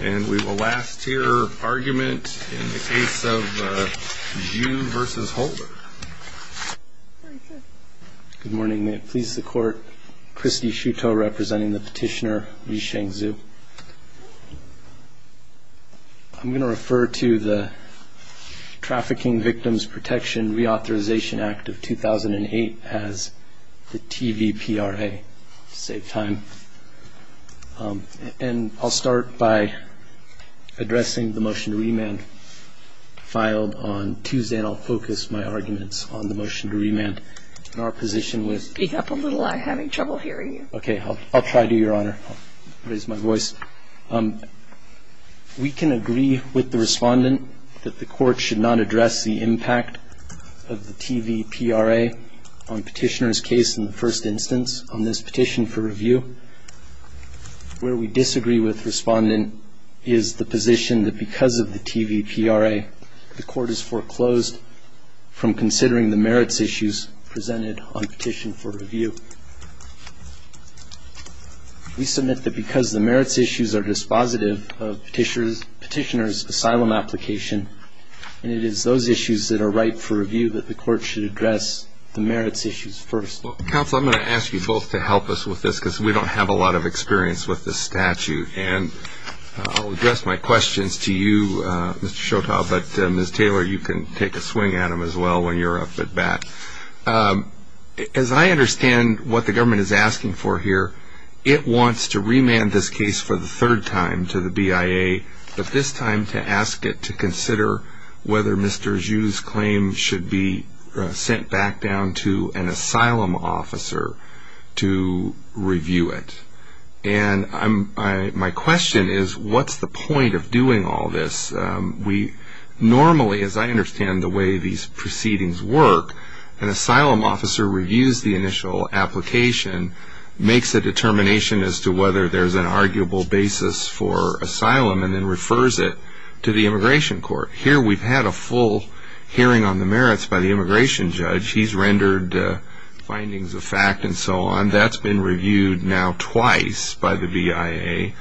And we will last hear argument in the case of Ju v. Holder. Good morning. May it please the court, Christie Shuto representing the petitioner Li Shengzhu. I'm going to refer to the Trafficking Victims Protection Reauthorization Act of 2008 as the TVPRA, to save time. And I'll start by addressing the motion to remand filed on Tuesday, and I'll focus my arguments on the motion to remand. And our position was- Speak up a little. I'm having trouble hearing you. Okay. I'll try to, Your Honor. I'll raise my voice. We can agree with the respondent that the court should not address the impact of the TVPRA on petitioner's case in the first instance on this petition for review. Where we disagree with respondent is the position that because of the TVPRA, the court is foreclosed from considering the merits issues presented on petition for review. We submit that because the merits issues are dispositive of petitioner's asylum application, and it is those issues that are right for review that the court should address the merits issues first. Counsel, I'm going to ask you both to help us with this because we don't have a lot of experience with this statute. And I'll address my questions to you, Mr. Shuto, but Ms. Taylor, you can take a swing at them as well when you're up at bat. As I understand what the government is asking for here, it wants to remand this case for the third time to the BIA, but this time to ask it to consider whether Mr. Zhu's claim should be sent back down to an asylum officer to review it. And my question is, what's the point of doing all this? Normally, as I understand the way these proceedings work, an asylum officer reviews the initial application, makes a determination as to whether there's an arguable basis for asylum, and then refers it to the immigration court. Here we've had a full hearing on the merits by the immigration judge. He's rendered findings of fact and so on. That's been reviewed now twice by the BIA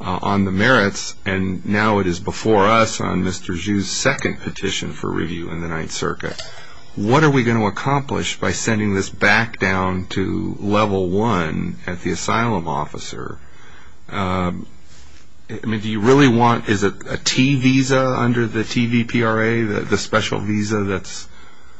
on the merits, and now it is before us on Mr. Zhu's second petition for review in the Ninth Circuit. What are we going to accomplish by sending this back down to level one at the asylum officer? I mean, do you really want, is it a T visa under the TVPRA, the special visa that's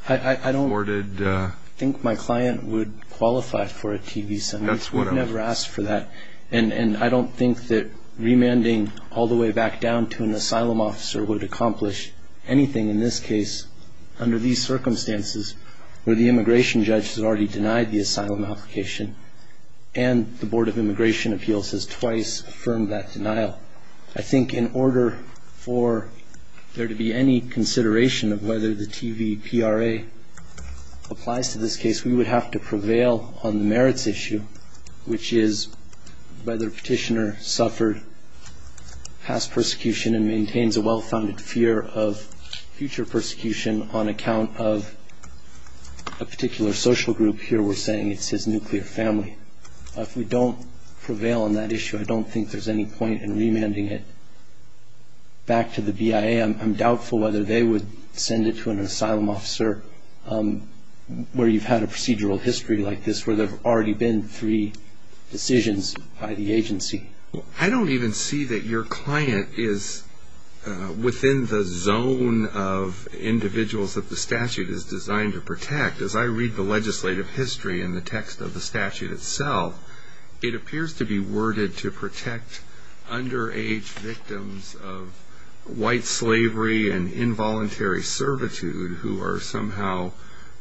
afforded? I don't think my client would qualify for a T visa. That's what I'm saying. We've never asked for that. And I don't think that remanding all the way back down to an asylum officer would accomplish anything. In this case, under these circumstances where the immigration judge has already denied the asylum application and the Board of Immigration Appeals has twice affirmed that denial, I think in order for there to be any consideration of whether the TVPRA applies to this case, we would have to prevail on the merits issue, which is whether a petitioner suffered past persecution and maintains a well-founded fear of future persecution on account of a particular social group. Here we're saying it's his nuclear family. If we don't prevail on that issue, I don't think there's any point in remanding it back to the BIA. I'm doubtful whether they would send it to an asylum officer where you've had a procedural history like this, where there have already been three decisions by the agency. I don't even see that your client is within the zone of individuals that the statute is designed to protect. As I read the legislative history in the text of the statute itself, it appears to be worded to protect underage victims of white slavery and involuntary servitude who are somehow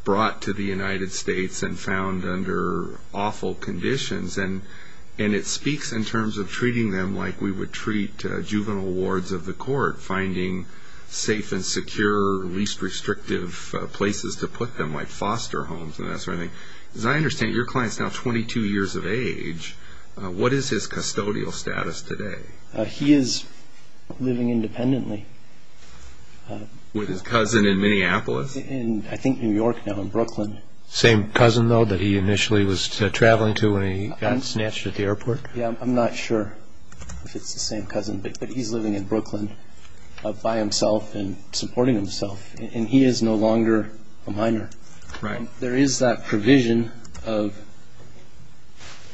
brought to the United States and found under awful conditions. And it speaks in terms of treating them like we would treat juvenile wards of the court, finding safe and secure, least restrictive places to put them, like foster homes and that sort of thing. As I understand it, your client is now 22 years of age. What is his custodial status today? He is living independently. With his cousin in Minneapolis? In, I think, New York now, in Brooklyn. Same cousin, though, that he initially was traveling to when he got snatched at the airport? Yeah, I'm not sure if it's the same cousin, but he's living in Brooklyn by himself and supporting himself. And he is no longer a minor. There is that provision of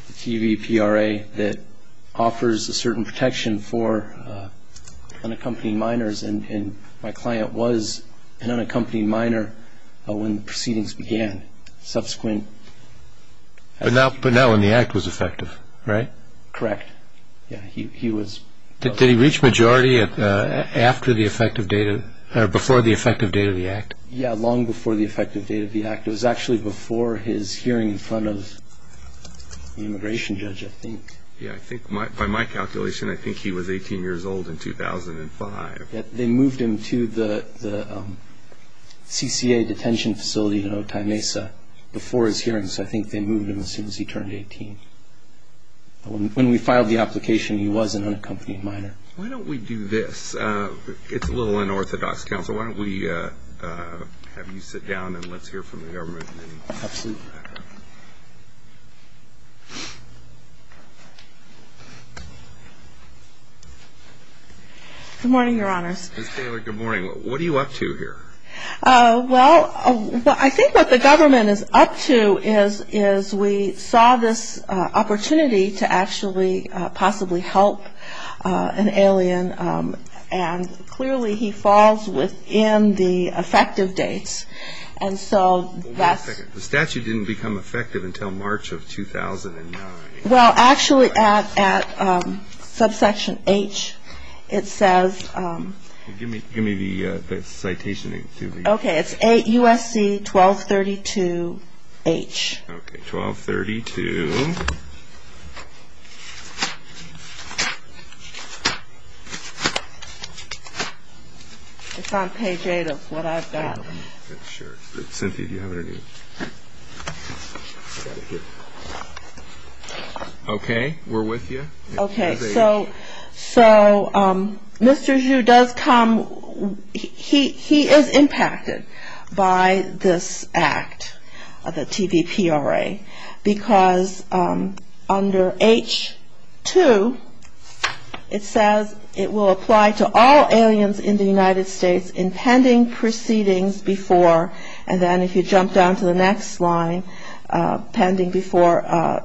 the TVPRA that offers a certain protection for unaccompanied minors, and my client was an unaccompanied minor when the proceedings began, subsequent. But not when the Act was effective, right? Correct. Yeah, he was. Did he reach majority after the effective date, or before the effective date of the Act? Yeah, long before the effective date of the Act. It was actually before his hearing in front of the immigration judge, I think. Yeah, by my calculation, I think he was 18 years old in 2005. They moved him to the CCA detention facility in Otay Mesa before his hearings. I think they moved him as soon as he turned 18. When we filed the application, he was an unaccompanied minor. Why don't we do this? It's a little unorthodox. Counsel, why don't we have you sit down and let's hear from the government. Absolutely. Good morning, Your Honors. Ms. Taylor, good morning. What are you up to here? Well, I think what the government is up to is we saw this opportunity to actually possibly help an alien, and clearly he falls within the effective dates. And so that's... Wait a second. The statute didn't become effective until March of 2009. Well, actually, at subsection H, it says... Give me the citation. Okay, it's USC 1232H. Okay, 1232. It's on page 8 of what I've got. Cynthia, do you have it? Okay, we're with you. Okay, so Mr. Zhu does come. He is impacted by this act, the TVPRA, because under H2, it says it will apply to all aliens in the United States in pending proceedings before, and then if you jump down to the next line, pending before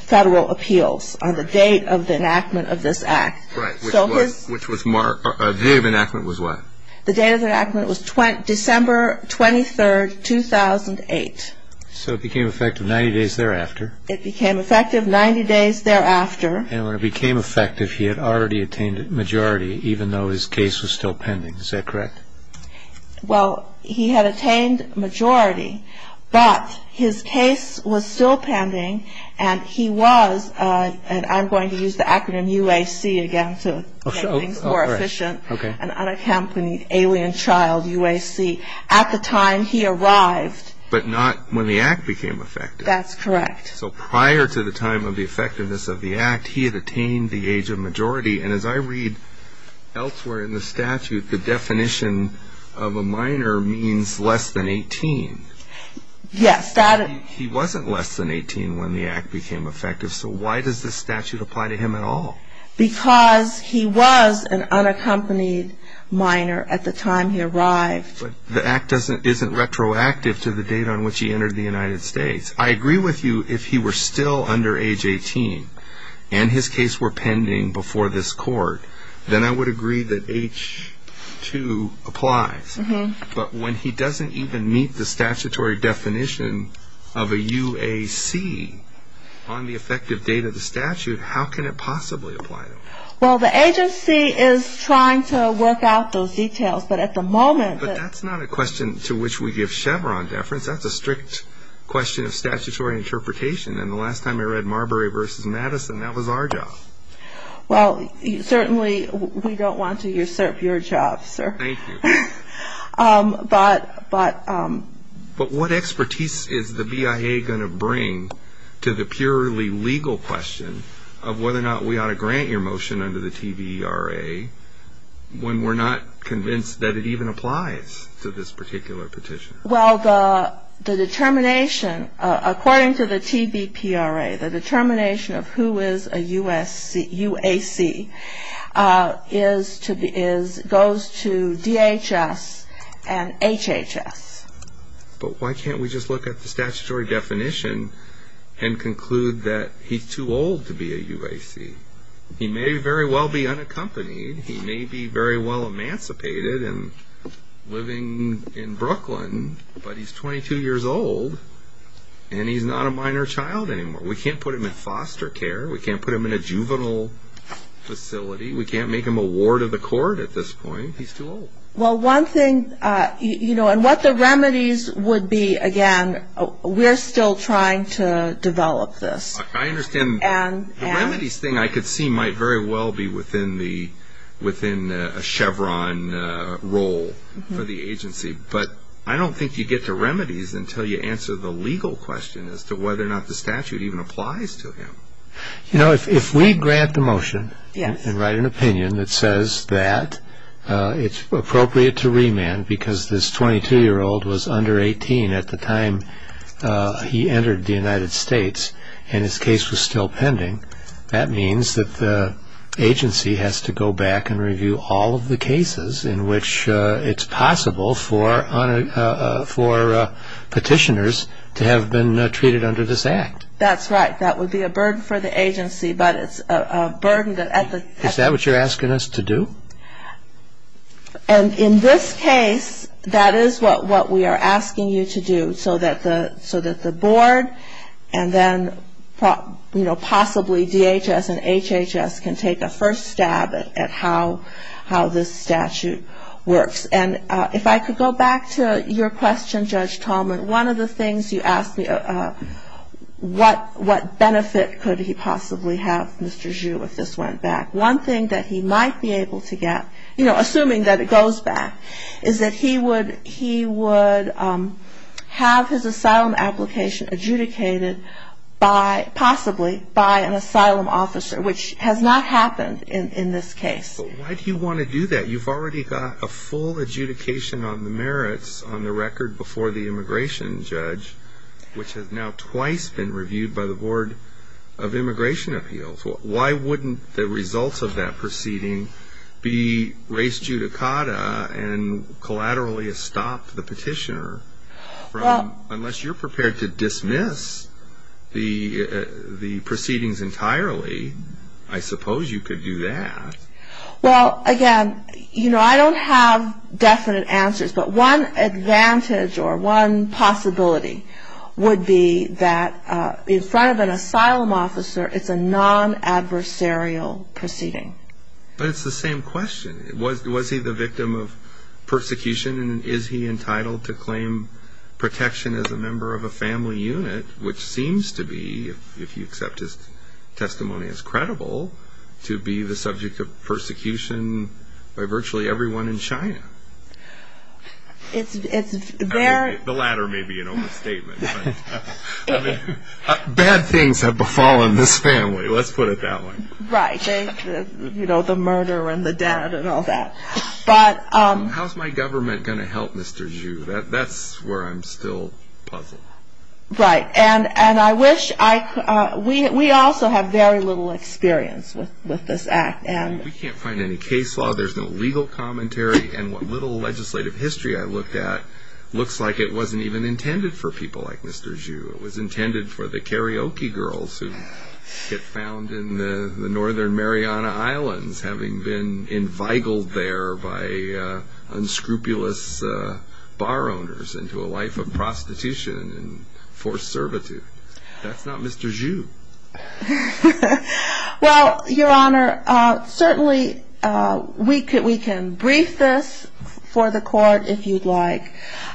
federal appeals on the date of the enactment of this act. Right, which was March... The date of enactment was what? The date of enactment was December 23, 2008. So it became effective 90 days thereafter. It became effective 90 days thereafter. And when it became effective, he had already attained majority, even though his case was still pending. Is that correct? Well, he had attained majority, but his case was still pending, and he was, and I'm going to use the acronym UAC again to make things more efficient, an unaccompanied alien child, UAC, at the time he arrived. But not when the act became effective. That's correct. So prior to the time of the effectiveness of the act, he had attained the age of majority. And as I read elsewhere in the statute, the definition of a minor means less than 18. Yes. He wasn't less than 18 when the act became effective, so why does this statute apply to him at all? Because he was an unaccompanied minor at the time he arrived. But the act isn't retroactive to the date on which he entered the United States. I agree with you if he were still under age 18 and his case were pending before this court, then I would agree that H-2 applies. But when he doesn't even meet the statutory definition of a UAC on the effective date of the statute, how can it possibly apply to him? Well, the agency is trying to work out those details. But at the moment, that's not a question to which we give Chevron deference. That's a strict question of statutory interpretation. And the last time I read Marbury v. Madison, that was our job. Well, certainly we don't want to usurp your job, sir. Thank you. But what expertise is the BIA going to bring to the purely legal question of whether or not we ought to grant your motion under the TVERA when we're not convinced that it even applies to this particular petition? Well, the determination, according to the TVERA, the determination of who is a UAC goes to DHS and HHS. But why can't we just look at the statutory definition and conclude that he's too old to be a UAC? He may very well be unaccompanied. He may be very well emancipated and living in Brooklyn. But he's 22 years old, and he's not a minor child anymore. We can't put him in foster care. We can't put him in a juvenile facility. We can't make him a ward of the court at this point. He's too old. Well, one thing, you know, and what the remedies would be, again, we're still trying to develop this. I understand the remedies thing I could see might very well be within a Chevron role for the agency. But I don't think you get to remedies until you answer the legal question as to whether or not the statute even applies to him. You know, if we grant the motion and write an opinion that says that it's appropriate to remand because this 22-year-old was under 18 at the time he entered the United States and his case was still pending, that means that the agency has to go back and review all of the cases in which it's possible for petitioners to have been treated under this act. That's right. That would be a burden for the agency, but it's a burden that at the- Is that what you're asking us to do? And in this case, that is what we are asking you to do so that the board and then, you know, possibly DHS and HHS can take a first stab at how this statute works. And if I could go back to your question, Judge Tallman, one of the things you asked me, what benefit could he possibly have, Mr. Zhu, if this went back? One thing that he might be able to get, you know, assuming that it goes back, is that he would have his asylum application adjudicated possibly by an asylum officer, which has not happened in this case. Why do you want to do that? You've already got a full adjudication on the merits on the record before the immigration judge, which has now twice been reviewed by the Board of Immigration Appeals. Why wouldn't the results of that proceeding be raised judicata and collaterally stop the petitioner from, unless you're prepared to dismiss the proceedings entirely, I suppose you could do that. Well, again, you know, I don't have definite answers, but one advantage or one possibility would be that in front of an asylum officer, it's a non-adversarial proceeding. But it's the same question. Was he the victim of persecution, and is he entitled to claim protection as a member of a family unit, which seems to be, if you accept his testimony as credible, to be the subject of persecution by virtually everyone in China? It's very – The latter may be an old statement. Bad things have befallen this family. Let's put it that way. Right. You know, the murder and the dead and all that. How's my government going to help Mr. Zhu? That's where I'm still puzzled. Right. And I wish – we also have very little experience with this act. We can't find any case law. There's no legal commentary. And what little legislative history I looked at looks like it wasn't even intended for people like Mr. Zhu. It was intended for the karaoke girls who get found in the Northern Mariana Islands having been envigled there by unscrupulous bar owners into a life of prostitution and forced servitude. That's not Mr. Zhu. Well, Your Honor, certainly we can brief this for the court if you'd like.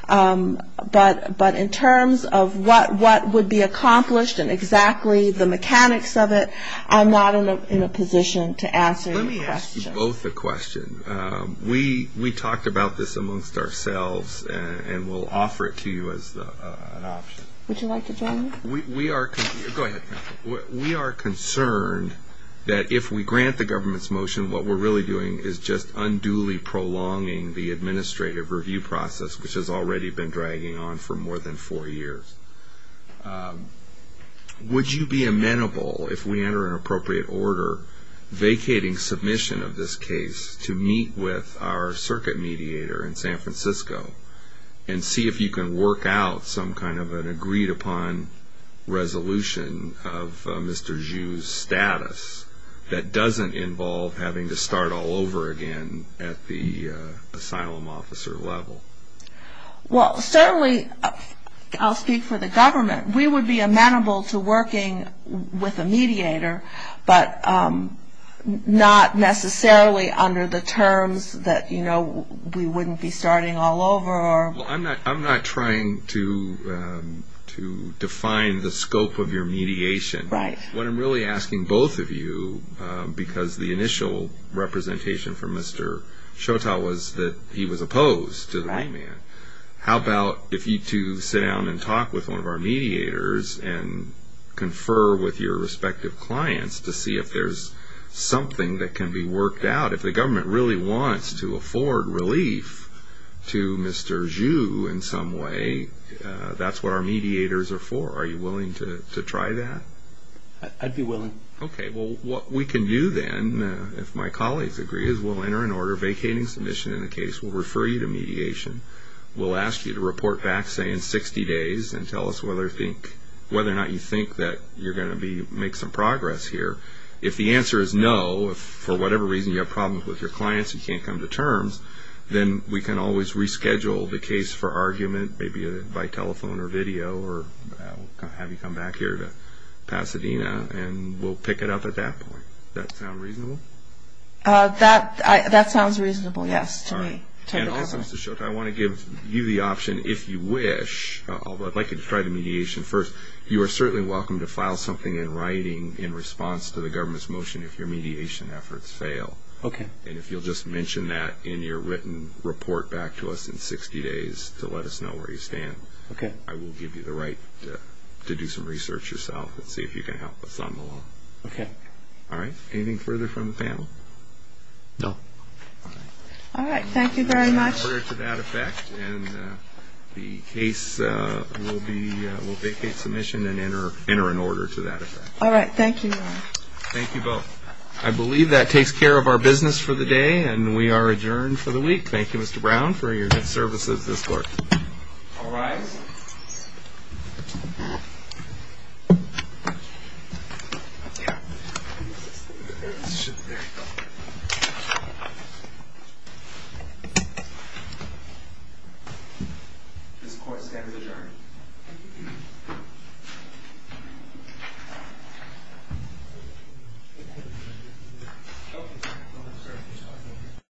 But in terms of what would be accomplished and exactly the mechanics of it, I'm not in a position to answer your question. Let me ask you both a question. We talked about this amongst ourselves, and we'll offer it to you as an option. Would you like to join me? Go ahead. We are concerned that if we grant the government's motion, what we're really doing is just unduly prolonging the administrative review process, which has already been dragging on for more than four years. Would you be amenable, if we enter an appropriate order, vacating submission of this case to meet with our circuit mediator in San Francisco and see if you can work out some kind of an agreed-upon resolution of Mr. Zhu's status that doesn't involve having to start all over again at the asylum officer level? Well, certainly I'll speak for the government. We would be amenable to working with a mediator, but not necessarily under the terms that, you know, we wouldn't be starting all over. Well, I'm not trying to define the scope of your mediation. What I'm really asking both of you, because the initial representation from Mr. Chautau was that he was opposed to the layman, how about if you two sit down and talk with one of our mediators and confer with your respective clients to see if there's something that can be worked out? If the government really wants to afford relief to Mr. Zhu in some way, that's what our mediators are for. Are you willing to try that? I'd be willing. Okay. Well, what we can do then, if my colleagues agree, is we'll enter an order vacating submission in the case. We'll refer you to mediation. We'll ask you to report back, say, in 60 days and tell us whether or not you think that you're going to make some progress here. If the answer is no, if for whatever reason you have problems with your clients, you can't come to terms, then we can always reschedule the case for argument, maybe by telephone or video, or have you come back here to Pasadena, and we'll pick it up at that point. Does that sound reasonable? That sounds reasonable, yes, to me. And also, Mr. Schulte, I want to give you the option, if you wish, although I'd like you to try the mediation first, you are certainly welcome to file something in writing in response to the government's motion if your mediation efforts fail. Okay. And if you'll just mention that in your written report back to us in 60 days to let us know where you stand, I will give you the right to do some research yourself and see if you can help us on the law. Okay. All right? Anything further from the panel? No. All right. Thank you very much. Order to that effect, and the case will vacate submission and enter an order to that effect. All right. Thank you. Thank you both. I believe that takes care of our business for the day, and we are adjourned for the week. Thank you, Mr. Brown, for your good services this morning. All rise. This court stands adjourned.